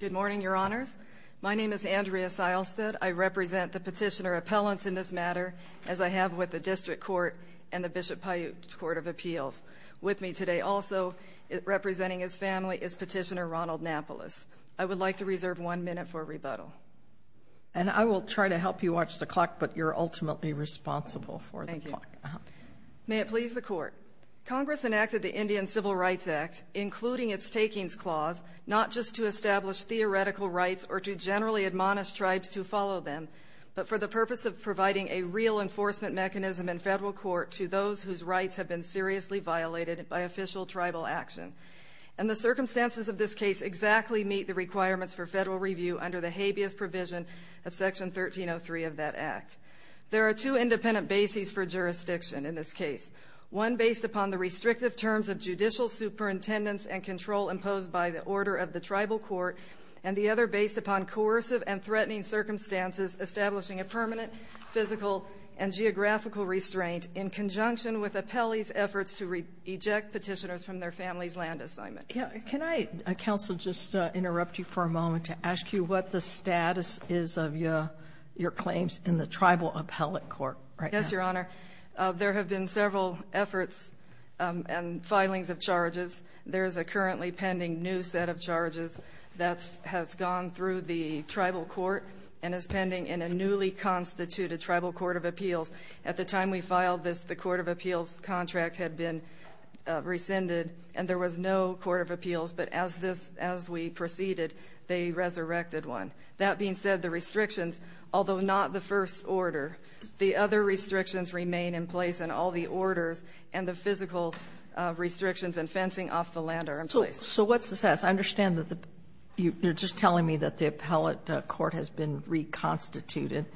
Good morning, Your Honors. My name is Andrea Seilstedt. I represent the Petitioner Appellants in this matter, as I have with the District Court and the Bishop Paiute Court of Appeals. With me today, also representing his family, is Petitioner Ronald Napoles. I would like to reserve one minute for rebuttal. And I will try to help you watch the clock, but you're ultimately responsible for the clock. May it please the Court, Congress enacted the Indian Civil Rights Act, including its takings clause, not just to establish theoretical rights or to generally admonish tribes to follow them, but for the purpose of providing a real enforcement mechanism in federal court to those whose rights have been seriously violated by official tribal action. And the circumstances of this case exactly meet the requirements for federal review under the habeas provision of Section 1303 of that act. There are two independent bases for jurisdiction in this case, one based upon the restrictive terms of judicial superintendence and control imposed by the order of the tribal court, and the other based upon coercive and threatening circumstances establishing a permanent physical and geographical restraint in conjunction with appellees' efforts to reject petitioners from their family's land assignment. Can I, Counsel, just interrupt you for a moment to ask you what the status is of your claims in the tribal appellate court right now? Yes, Your Honor. There have been several efforts and filings of charges. There is a currently pending new set of charges that has gone through the tribal court and is pending in a newly constituted tribal court of appeals. At the time we filed this, the court of appeals contract had been rescinded, and there was no court of appeals. But as this as we proceeded, they resurrected one. That being said, the restrictions, although not the first order, the other restrictions remain in place, and all the orders and the physical restrictions and fencing off the land are in place. So what's the status? I understand that the you're just telling me that the appellate court has been reconstituted,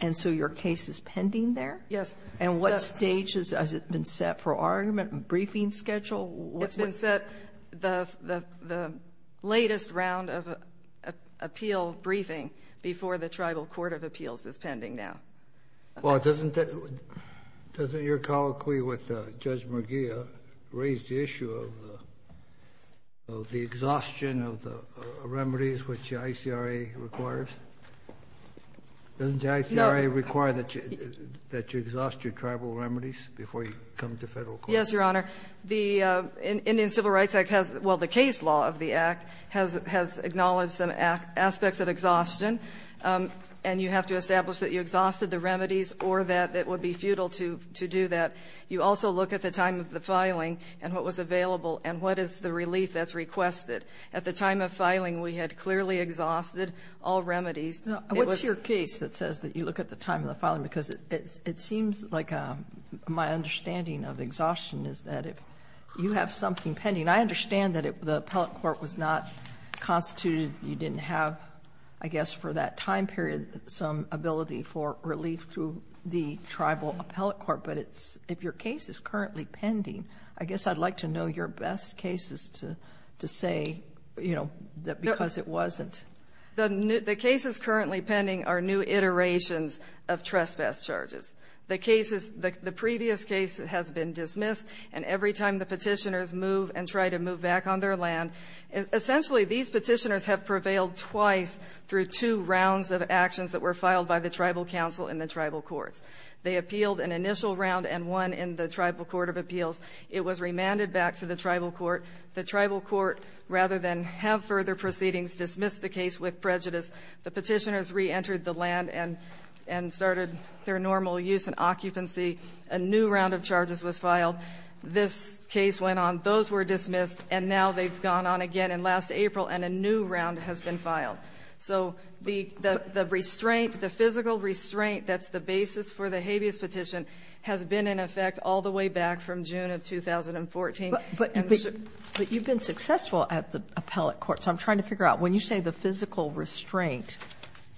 and so your case is pending there? Yes. And what stage has it been set for argument and briefing schedule? It's been set the latest round of appeal briefing before the tribal court of appeals is pending now. Well, doesn't your colloquy with Judge McGeeh raise the issue of the exhaustion of the remedies which the ICRA requires? Doesn't the ICRA require that you exhaust your tribal remedies before you come to Federal court? Yes, Your Honor. The Indian Civil Rights Act has the case law of the Act has acknowledged some aspects of exhaustion. And you have to establish that you exhausted the remedies or that it would be futile to do that. You also look at the time of the filing and what was available and what is the relief that's requested. At the time of filing, we had clearly exhausted all remedies. What's your case that says that you look at the time of the filing? Because it seems like my understanding of exhaustion is that if you have something pending, I understand that if the appellate court was not constituted, you didn't have, I guess, for that time period some ability for relief through the tribal appellate court. But if your case is currently pending, I guess I'd like to know your best cases to say, you know, that because it wasn't. The cases currently pending are new iterations of trespass charges. The cases, the previous case has been dismissed. And every time the petitioners move and try to move back on their land, essentially these petitioners have prevailed twice through two rounds of actions that were filed by the tribal council and the tribal courts. They appealed an initial round and won in the tribal court of appeals. It was remanded back to the tribal court. The tribal court, rather than have further proceedings, dismissed the case with prejudice. The petitioners reentered the land and started their normal use and occupancy. A new round of charges was filed. This case went on. Those were dismissed. And now they've gone on again in last April, and a new round has been filed. So the restraint, the physical restraint that's the basis for the habeas petition has been in effect all the way back from June of 2014. And so you've been successful at the appellate court. So I'm trying to figure out, when you say the physical restraint,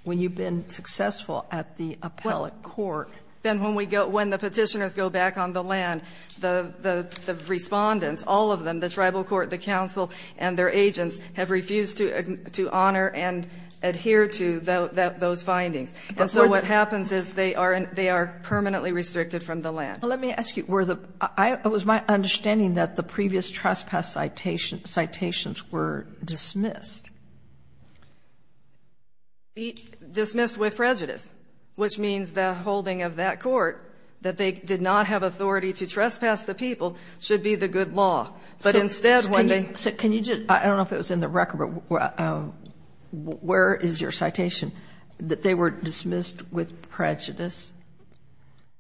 when you've been successful at the appellate court, then when we go, when the petitioners go back on the land, the Respondents, all of them, the tribal court, the council and their agents have refused to honor and adhere to those findings. And so what happens is they are permanently restricted from the land. Sotomayor, let me ask you. It was my understanding that the previous trespass citations were dismissed. Dismissed with prejudice, which means the holding of that court, that they did not have authority to trespass the people, should be the good law. But instead, when they do. I don't know if it was in the record, but where is your citation, that they were dismissed with prejudice?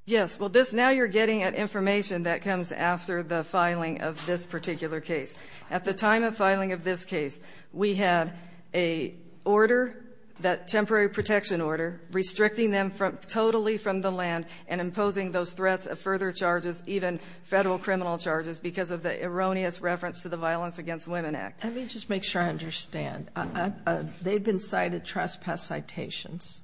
Yes. Well, this, now you're getting information that comes after the filing of this particular case. At the time of filing of this case, we had a order, that temporary protection order, restricting them totally from the land and imposing those threats of further charges, even Federal criminal charges, because of the erroneous reference to the Violence Against Women Act. Let me just make sure I understand. They've been cited trespass citations.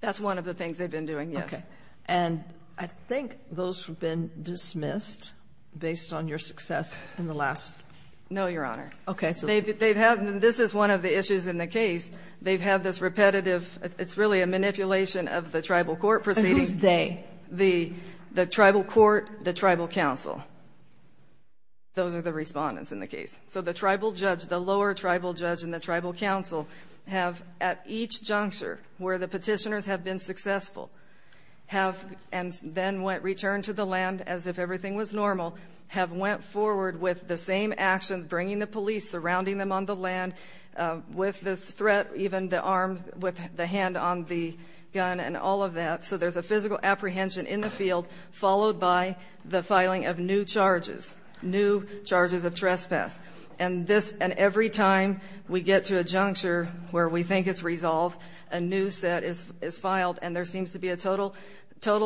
That's one of the things they've been doing, yes. Okay. And I think those have been dismissed based on your success in the last. No, Your Honor. Okay. They've had them. This is one of the issues in the case. They've had this repetitive, it's really a manipulation of the tribal court proceeding. And who's they? The tribal court, the tribal counsel. Those are the Respondents in the case. So the tribal judge, the lower tribal judge and the tribal counsel have, at each successful, have then returned to the land as if everything was normal, have went forward with the same actions, bringing the police, surrounding them on the land with this threat, even the arms, with the hand on the gun and all of that. So there's a physical apprehension in the field, followed by the filing of new charges, new charges of trespass. And every time we get to a juncture where we think it's resolved, a new set is filed. And there seems to be a total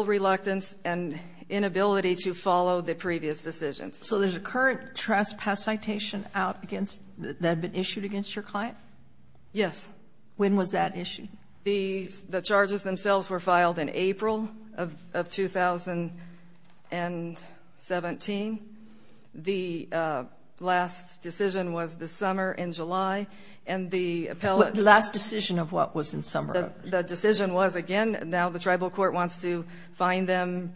reluctance and inability to follow the previous decisions. So there's a current trespass citation out against, that had been issued against your client? Yes. When was that issued? The charges themselves were filed in April of 2017. The last decision was this summer in July. And the appellate ---- The last decision of what was in summer? The decision was, again, now the tribal court wants to find them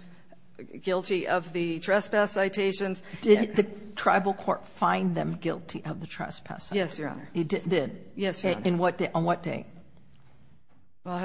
guilty of the trespass citations. Did the tribal court find them guilty of the trespass? Yes, Your Honor. It did? Yes, Your Honor. On what day? Well, I'll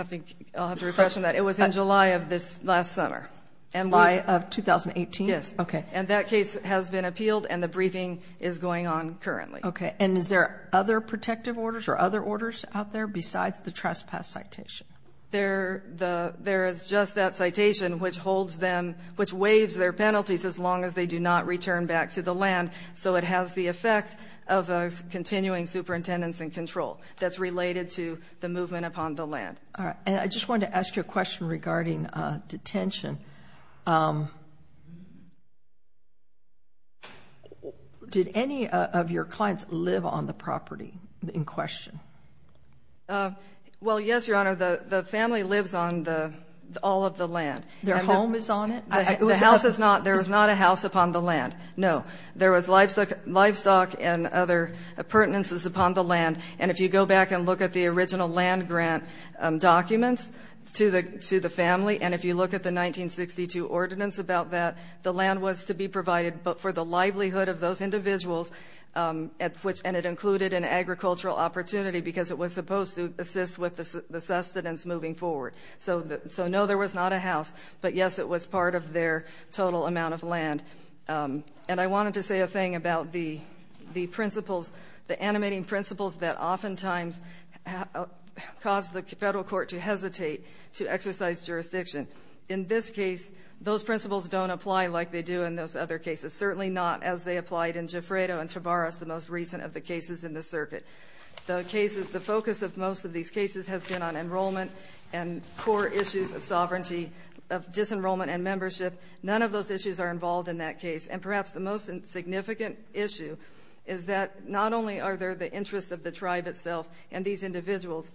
have to refresh on that. It was in July of this last summer. July of 2018? Yes. Okay. And that case has been appealed, and the briefing is going on currently. Okay. And is there other protective orders or other orders out there besides the trespass citation? There is just that citation which holds them ---- which waives their penalties as long as they do not return back to the land, so it has the effect of continuing superintendents in control. That's related to the movement upon the land. All right. And I just wanted to ask you a question regarding detention. Did any of your clients live on the property in question? Well, yes, Your Honor. The family lives on all of the land. Their home is on it? The house is not. There is not a house upon the land. No. There was livestock and other pertinences upon the land, and if you go back and look at the original land grant documents to the family, and if you look at the 1962 ordinance about that, the land was to be provided for the livelihood of those individuals, and it included an agricultural opportunity because it was supposed to assist with the sustenance moving forward. So, no, there was not a house, but, yes, it was part of their total amount of land. And I wanted to say a thing about the principles, the animating principles that oftentimes cause the Federal court to hesitate to exercise jurisdiction. In this case, those principles don't apply like they do in those other cases, certainly not as they applied in Gifredo and Tavares, the most recent of the cases in the circuit. The focus of most of these cases has been on enrollment and core issues of sovereignty, of disenrollment and membership. None of those issues are involved in that case. And perhaps the most significant issue is that not only are there the interests of the tribe itself and these individuals,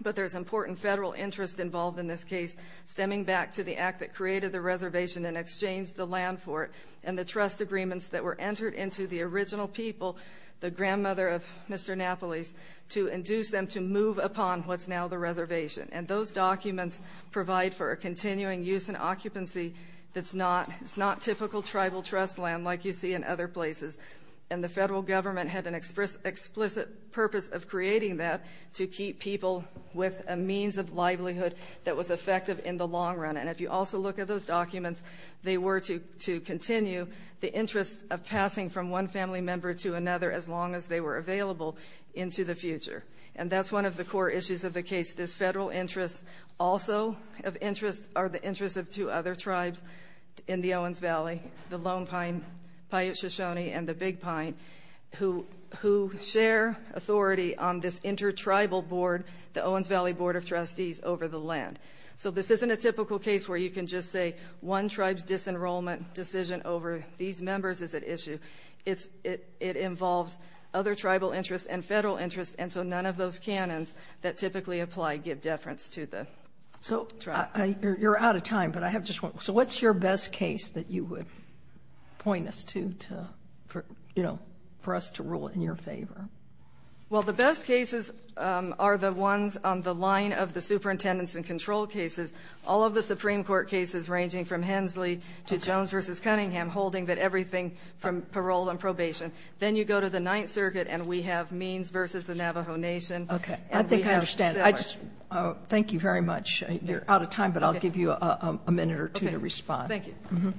but there's important Federal interest involved in this case stemming back to the act that created the reservation and exchanged the land for it and the trust agreements that were entered into the original people, the grandmother of Mr. Napoles, to induce them to move upon what's now the reservation. And those documents provide for a continuing use and occupancy that's not typical tribal trust land like you see in other places. And the Federal government had an explicit purpose of creating that to keep people with a means of livelihood that was effective in the long run. And if you also look at those documents, they were to continue the interest of passing from one family member to another as long as they were available into the future. And that's one of the core issues of the case. This Federal interest also of interest are the interests of two other tribes in the Owens Valley, the Lone Pine, Paiute Shoshone, and the Big Pine, who share authority on this intertribal board, the Owens Valley Board of Trustees over the land. So this isn't a typical case where you can just say one tribe's disenrollment decision over these members is at issue. It involves other tribal interests and Federal interests, and so none of those canons that typically apply give deference to the tribe. So you're out of time, but I have just one. So what's your best case that you would point us to, you know, for us to rule in your favor? Well, the best cases are the ones on the line of the superintendents and control cases. All of the Supreme Court cases ranging from Hensley to Jones v. Cunningham holding that everything from parole and probation. Then you go to the Ninth Circuit, and we have Means v. the Navajo Nation. Okay. I think I understand. Thank you very much. You're out of time, but I'll give you a minute or two to respond. Okay. Thank you.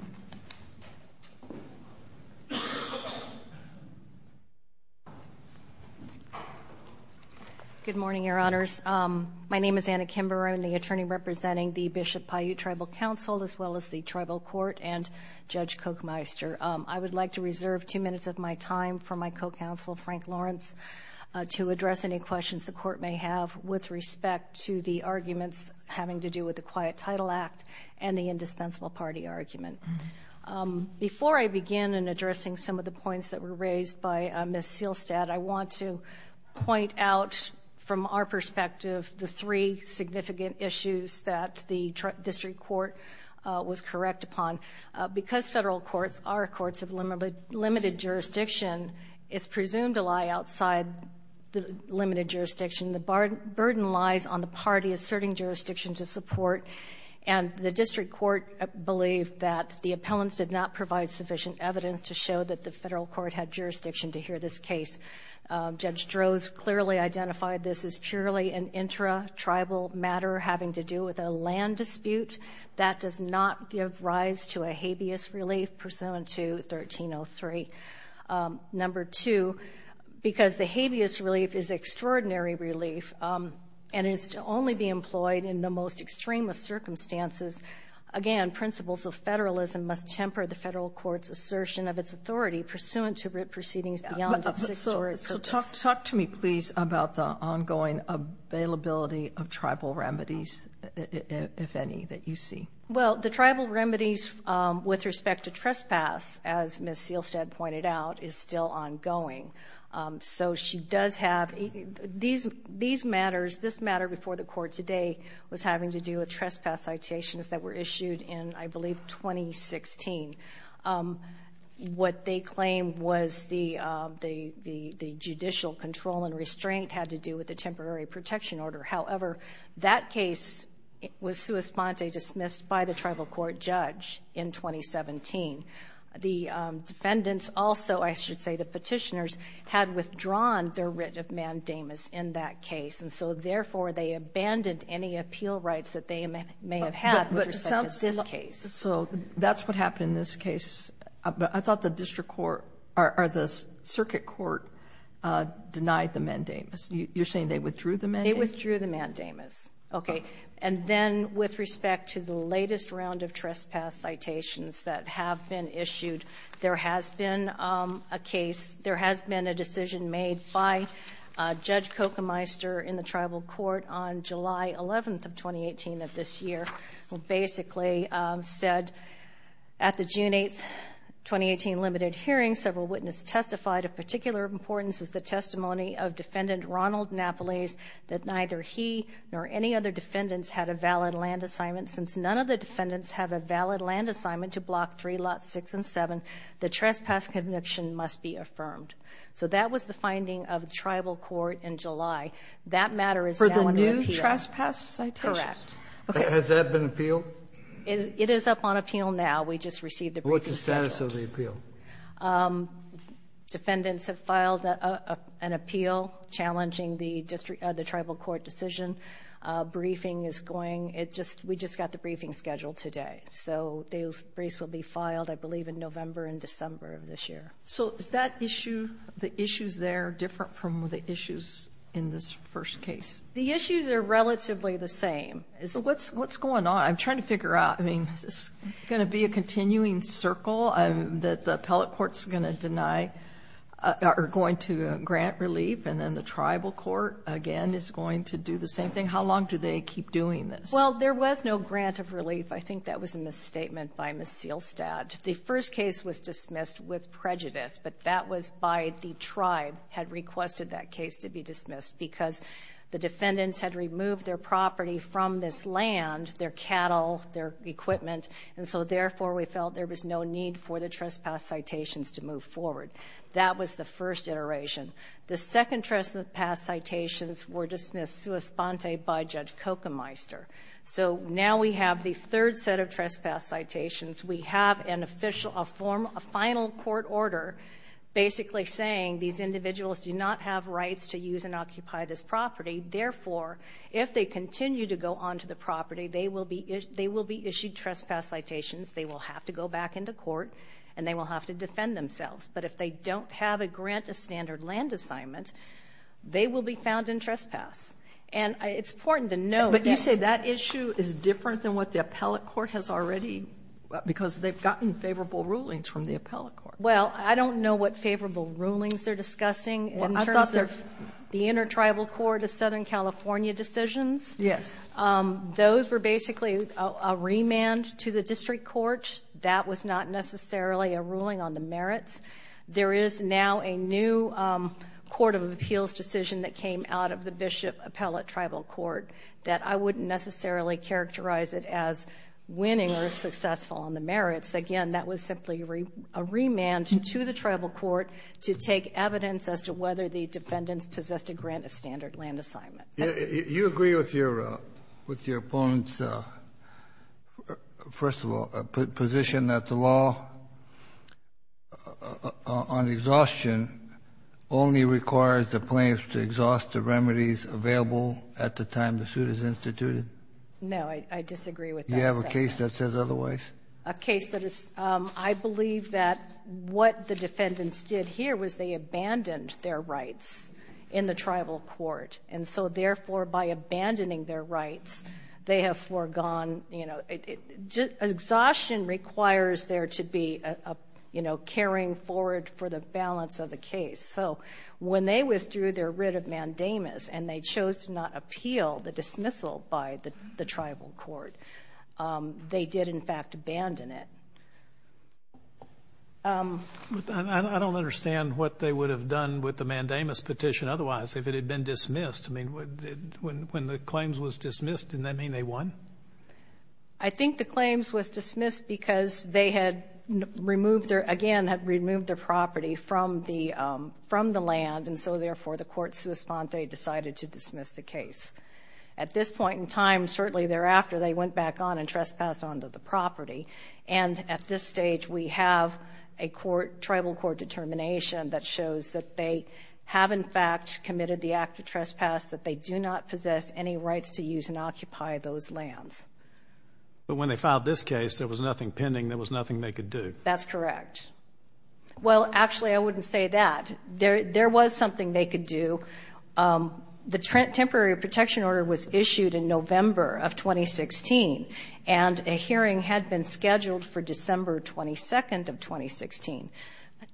Good morning, Your Honors. My name is Anna Kimberer. I'm the attorney representing the Bishop Paiute Tribal Council as well as the Tribal Court and Judge Kochmeister. I would like to reserve two minutes of my time for my co-counsel, Frank Lawrence, to address any questions the Court may have with respect to the arguments having to do with the Quiet Title Act and the indispensable party argument. Before I begin in addressing some of the points that were raised by Ms. Seelstad, I want to point out from our perspective the three significant issues that the district court was correct upon. Because Federal courts are courts of limited jurisdiction, it's presumed to lie outside the limited jurisdiction. The burden lies on the party asserting jurisdiction to support. And the district court believed that the appellants did not provide sufficient evidence to show that the Federal court had jurisdiction to hear this case. Judge Droz clearly identified this as purely an intra-tribal matter having to do with a land dispute. That does not give rise to a habeas relief pursuant to 1303. Number two, because the habeas relief is extraordinary relief and is to only be employed in the most extreme of circumstances, again, principles of Federalism must temper the Federal court's assertion of its authority pursuant to proceedings beyond its six jurisdictions. So talk to me, please, about the ongoing availability of tribal remedies, if any, that you see. Well, the tribal remedies with respect to trespass, as Ms. Sealstead pointed out, is still ongoing. So she does have these matters. This matter before the court today was having to do with trespass citations that were issued in, I believe, 2016. What they claimed was the judicial control and restraint had to do with the temporary protection order. However, that case was sua sponte dismissed by the tribal court judge in 2017. The defendants also, I should say the Petitioners, had withdrawn their writ of mandamus in that case, and so therefore they abandoned any appeal rights that they may have had with respect to this case. So that's what happened in this case. I thought the district court or the circuit court denied the mandamus. You're saying they withdrew the mandamus? They withdrew the mandamus. Okay. And then with respect to the latest round of trespass citations that have been issued, there has been a case, there has been a decision made by Judge Kochemeister in the tribal court on July 11th of 2018 of this year, who basically said, at the June 8th, 2018, limited hearing, several witnesses testified of particular importance is the testimony of Defendant Ronald Napolese that neither he nor any other defendants had a valid land assignment. Since none of the defendants have a valid land assignment to Block 3, Lots 6 and 7, the trespass conviction must be affirmed. So that was the finding of the tribal court in July. That matter is now under appeal. For the new trespass citations? Correct. Okay. Has that been appealed? It is up on appeal now. We just received the briefing statement. What's the status of the appeal? Defendants have filed an appeal challenging the tribal court decision. Briefing is going. We just got the briefing scheduled today. So the briefs will be filed, I believe, in November and December of this year. So is that issue, the issues there, different from the issues in this first case? The issues are relatively the same. What's going on? I'm trying to figure out. I mean, is this going to be a continuing circle? The appellate court is going to deny or going to grant relief and then the tribal court, again, is going to do the same thing? How long do they keep doing this? Well, there was no grant of relief. I think that was a misstatement by Ms. Seelstad. The first case was dismissed with prejudice, but that was by the tribe had requested that case to be dismissed because the defendants had removed their property from this land, their cattle, their equipment, and so therefore we felt there was no need for the trespass citations to move forward. That was the first iteration. The second trespass citations were dismissed sua sponte by Judge Kochemeister. So now we have the third set of trespass citations. We have a final court order basically saying these individuals do not have rights to use and occupy this property, therefore, if they continue to go onto the property, they will be issued trespass citations, they will have to go back into court, and they will have to defend themselves. But if they don't have a grant of standard land assignment, they will be found in trespass. And it's important to know that. But you say that issue is different than what the appellate court has already because they've gotten favorable rulings from the appellate court. Well, I don't know what favorable rulings they're discussing in terms of the intertribal court of Southern California decisions. Yes. Those were basically a remand to the district court. That was not necessarily a ruling on the merits. There is now a new court of appeals decision that came out of the Bishop Appellate Tribal Court that I wouldn't necessarily characterize it as winning or successful on the merits. Again, that was simply a remand to the tribal court to take evidence as to whether the defendants possessed a grant of standard land assignment. You agree with your opponent's, first of all, position that the law on exhaustion only requires the plaintiffs to exhaust the remedies available at the time the suit is instituted? No. I disagree with that. You have a case that says otherwise? A case that is — I believe that what the defendants did here was they abandoned their rights in the tribal court. And so, therefore, by abandoning their rights, they have foregone — you know, exhaustion requires there to be a, you know, carrying forward for the balance of the case. So when they withdrew their writ of mandamus and they chose to not appeal the dismissal by the tribal court, they did, in fact, abandon it. I don't understand what they would have done with the mandamus petition otherwise if it had been dismissed. I mean, when the claims was dismissed, didn't that mean they won? I think the claims was dismissed because they had removed their — again, had removed their property from the land. And so, therefore, the court sua sponte decided to dismiss the case. At this point in time, shortly thereafter, they went back on and trespassed onto the property. And at this stage, we have a court — tribal court determination that shows that they have, in fact, committed the act of trespass, that they do not possess any rights to use and occupy those lands. But when they filed this case, there was nothing pending. There was nothing they could do. That's correct. Well, actually, I wouldn't say that. There was something they could do. The temporary protection order was issued in November of 2016, and a hearing had been scheduled for December 22nd of 2016.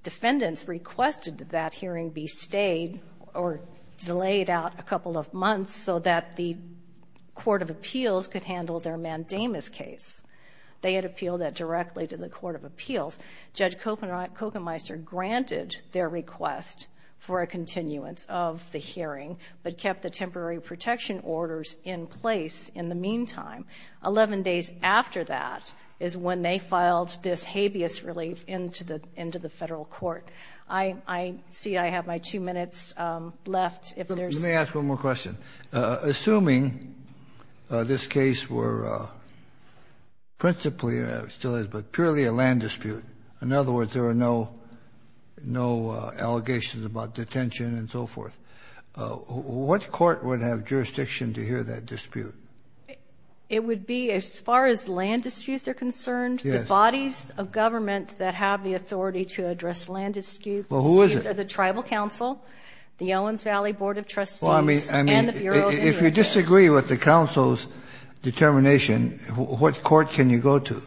Defendants requested that that hearing be stayed or delayed out a couple of months so that the court of appeals could handle their mandamus case. They had appealed that directly to the court of appeals. Judge Kochenmeister granted their request for a continuance of the hearing, but kept the temporary protection orders in place in the meantime. Eleven days after that is when they filed this habeas relief into the — into the Federal court. I see I have my two minutes left. If there's — Let me ask one more question. Assuming this case were principally — still is, but purely a land dispute, in other words, there are no allegations about detention and so forth, what court would have jurisdiction to hear that dispute? It would be, as far as land disputes are concerned — Yes. — the bodies of government that have the authority to address land disputes — Well, who is it? — are the tribal council, the Owens Valley Board of Trustees — Well, I mean —— and the Bureau of Injury. If you disagree with the council's determination, what court can you go to?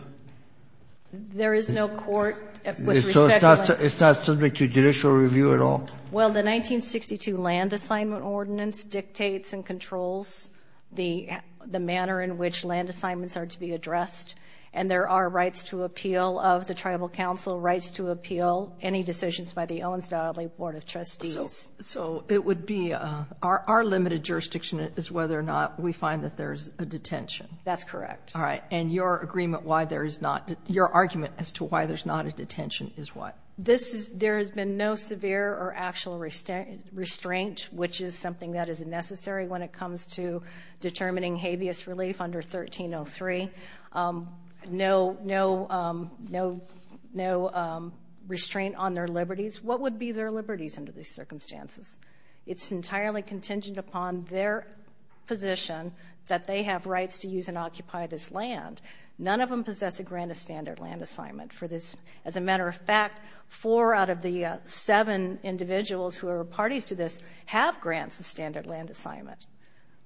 There is no court with respect to — So it's not subject to judicial review at all? Well, the 1962 Land Assignment Ordinance dictates and controls the manner in which land assignments are to be addressed, and there are rights to appeal of the tribal council, rights to appeal any decisions by the Owens Valley Board of Trustees. So it would be — our limited jurisdiction is whether or not we find that there's a detention. That's correct. All right. And your agreement why there is not — your argument as to why there's not a detention is what? This is — there has been no severe or actual restraint, which is something that is necessary when it comes to determining habeas relief under 1303. No — no — no — no restraint on their liberties. What would be their liberties under these circumstances? It's entirely contingent upon their position that they have rights to use and occupy this land. None of them possess a grant of standard land assignment for this. As a matter of fact, four out of the seven individuals who are parties to this have grants of standard land assignment.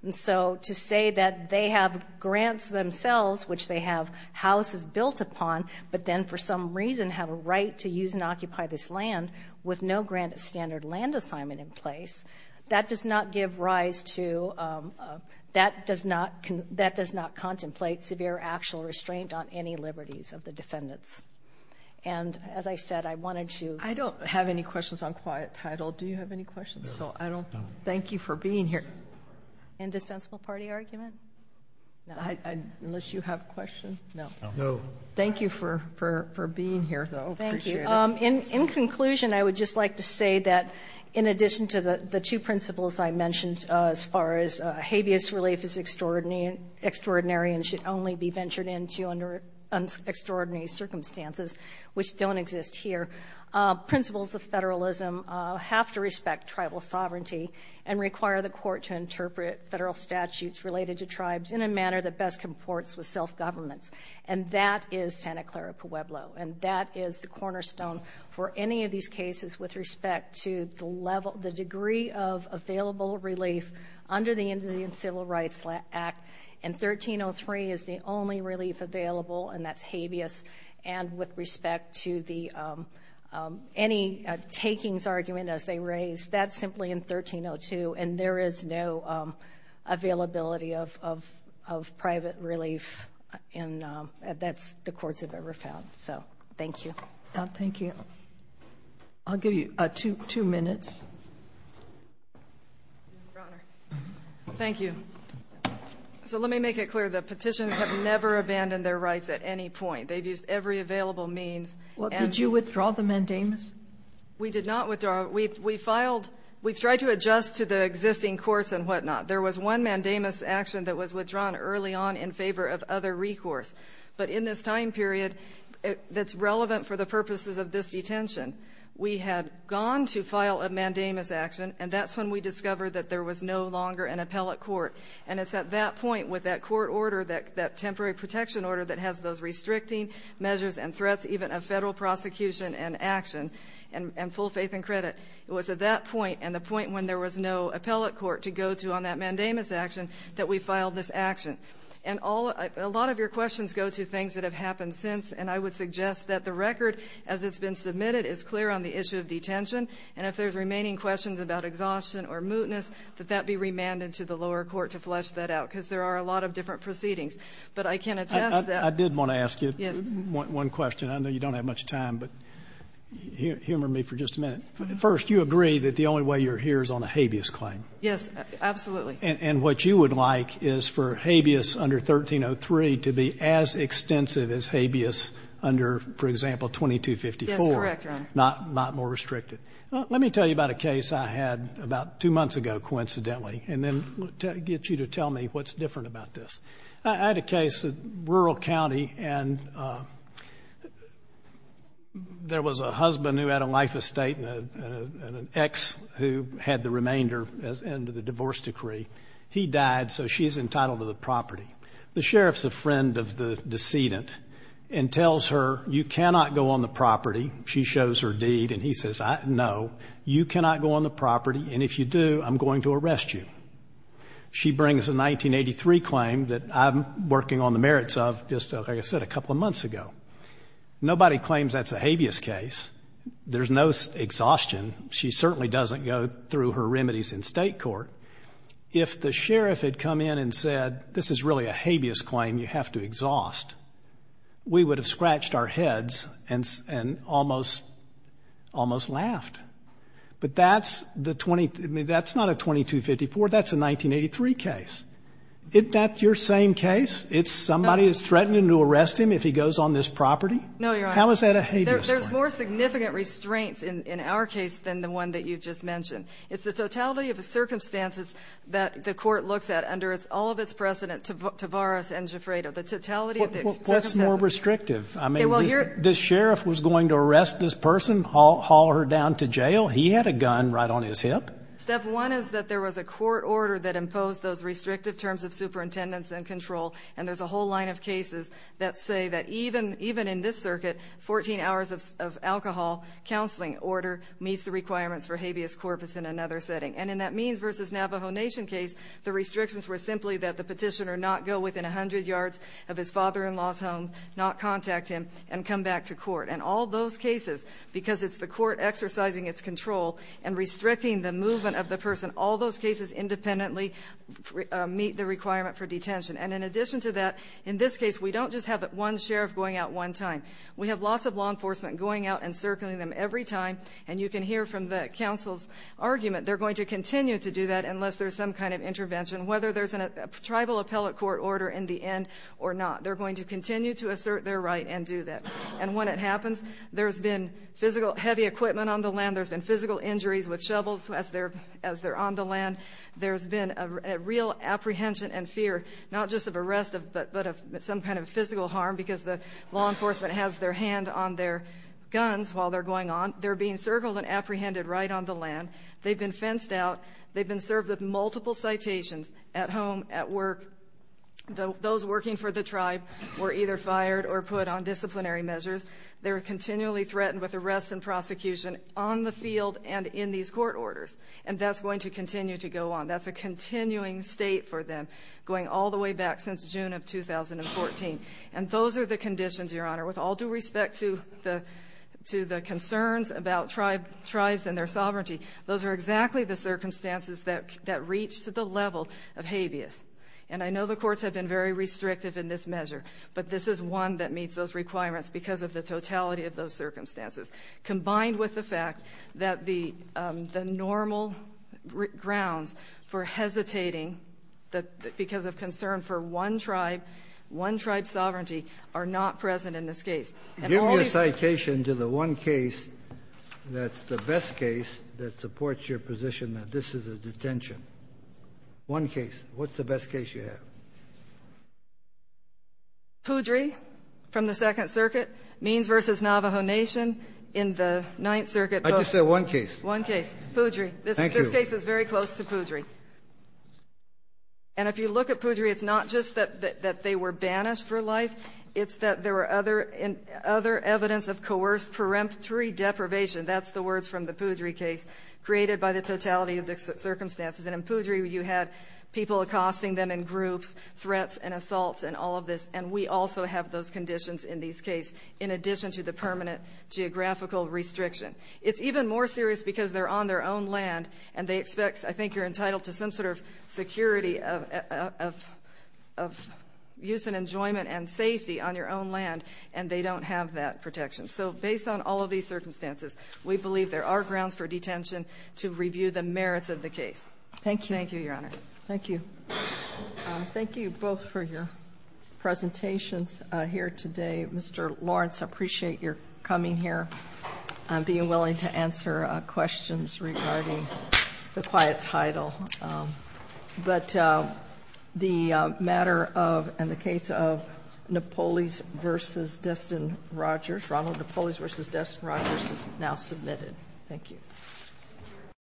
And so to say that they have grants themselves, which they have houses built upon, but then for some reason have a right to use and occupy this land with no grant of standard land assignment in place, that does not give rise to — that does not — that does not And as I said, I wanted to — I don't have any questions on quiet title. Do you have any questions? No. No. So I don't — thank you for being here. Indispensable party argument? No. Unless you have a question? No. No. Thank you for — for being here, though. Appreciate it. Thank you. In conclusion, I would just like to say that in addition to the two principles I mentioned as far as habeas relief is extraordinary and should only be ventured into under extraordinary circumstances, which don't exist here, principles of federalism have to respect tribal sovereignty and require the court to interpret federal statutes related to tribes in a manner that best comports with self-governments. And that is Santa Clara Pueblo. And that is the cornerstone for any of these cases with respect to the level — the degree of available relief under the Indian Civil Rights Act. And 1303 is the only relief available, and that's habeas. And with respect to the — any takings argument, as they raise, that's simply in 1302. And there is no availability of private relief, and that's the courts have ever found. So thank you. Thank you. I'll give you two minutes. Your Honor. Thank you. So let me make it clear. The Petitioners have never abandoned their rights at any point. They've used every available means. Well, did you withdraw the mandamus? We did not withdraw. We filed — we've tried to adjust to the existing courts and whatnot. There was one mandamus action that was withdrawn early on in favor of other recourse. But in this time period that's relevant for the purposes of this detention, we had gone to file a mandamus action, and that's when we discovered that there was no longer an appellate court. And it's at that point with that court order, that temporary protection order that has those restricting measures and threats even of federal prosecution and action and full faith and credit, it was at that point and the point when there was no appellate court to go to on that mandamus action that we filed this action. And a lot of your questions go to things that have happened since, and I would suggest that the record as it's been submitted is clear on the issue of detention. And if there's remaining questions about exhaustion or mootness, that that be remanded to the lower court to flesh that out, because there are a lot of different proceedings. But I can attest that — I did want to ask you one question. I know you don't have much time, but humor me for just a minute. First, you agree that the only way you're here is on a habeas claim. Yes, absolutely. And what you would like is for habeas under 1303 to be as extensive as habeas under, for example, 2254. Yes, correct, Your Honor. Not more restricted. Let me tell you about a case I had about two months ago, coincidentally, and then get you to tell me what's different about this. I had a case, a rural county, and there was a husband who had a life estate and an ex who had the remainder and the divorce decree. He died, so she's entitled to the property. The sheriff's a friend of the decedent and tells her, you cannot go on the property. She shows her deed, and he says, no, you cannot go on the property, and if you do, I'm going to arrest you. She brings a 1983 claim that I'm working on the merits of, just like I said, a couple of months ago. Nobody claims that's a habeas case. There's no exhaustion. She certainly doesn't go through her remedies in state court. If the sheriff had come in and said, this is really a habeas claim, you have to exhaust, we would have scratched our heads and almost laughed. But that's not a 2254. That's a 1983 case. Isn't that your same case? Somebody is threatening to arrest him if he goes on this property? No, Your Honor. How is that a habeas claim? There's more significant restraints in our case than the one that you just mentioned. It's the totality of the circumstances that the court looks at under all of its precedent, Tavares and Gifredo, the totality of the circumstances. What's more restrictive? I mean, the sheriff was going to arrest this person, haul her down to jail. He had a gun right on his hip. Step one is that there was a court order that imposed those restrictive terms of superintendents and control, and there's a whole line of cases that say that even in this circuit, 14 hours of alcohol counseling order meets the requirements for habeas corpus in another setting. And in that Means v. Navajo Nation case, the restrictions were simply that the petitioner not go within 100 yards of his father-in-law's home, not contact him, and come back to court. And all those cases, because it's the court exercising its control and restricting the movement of the person, all those cases independently meet the requirement for detention. And in addition to that, in this case, we don't just have one sheriff going out one time. We have lots of law enforcement going out and circling them every time, and you can hear from the counsel's argument they're going to continue to do that unless there's some kind of intervention, whether there's a tribal appellate court order in the end or not. They're going to continue to assert their right and do that. And when it happens, there's been physical heavy equipment on the land. There's been physical injuries with shovels as they're on the land. There's been a real apprehension and fear, not just of arrest, but of some kind of physical harm because the law enforcement has their hand on their guns while they're going on. They're being circled and apprehended right on the land. They've been fenced out. They've been served with multiple citations at home, at work. Those working for the tribe were either fired or put on disciplinary measures. They were continually threatened with arrests and prosecution on the field and in these court orders, and that's going to continue to go on. That's a continuing state for them, going all the way back since June of 2014. And those are the conditions, Your Honor, with all due respect to the concerns about tribes and their sovereignty. Those are exactly the circumstances that reach to the level of habeas. And I know the courts have been very restrictive in this measure, but this is one that meets those requirements because of the totality of those circumstances, combined with the fact that the normal grounds for hesitating because of concern for one tribe, one tribe's sovereignty, are not present in this case. And always the case that supports your position that this is a detention. One case. What's the best case you have? Poudry from the Second Circuit. Means v. Navajo Nation in the Ninth Circuit. I just said one case. One case. Poudry. Thank you. This case is very close to Poudry. And if you look at Poudry, it's not just that they were banished for life, it's that there were other evidence of coerced peremptory deprivation, that's the words from the Poudry case, created by the totality of the circumstances. And in Poudry you had people accosting them in groups, threats and assaults and all of this, and we also have those conditions in this case, in addition to the permanent geographical restriction. It's even more serious because they're on their own land, and they expect I think you're entitled to some sort of security of use and enjoyment and safety on your own land, and they don't have that protection. So based on all of these circumstances, we believe there are grounds for detention to review the merits of the case. Thank you. Thank you, Your Honor. Thank you. Thank you both for your presentations here today. Mr. Lawrence, I appreciate your coming here and being willing to answer questions regarding the quiet title. But the matter of and the case of Napoles v. Destin-Rogers, Ronald Napoles v. Destin-Rogers is now submitted. Thank you.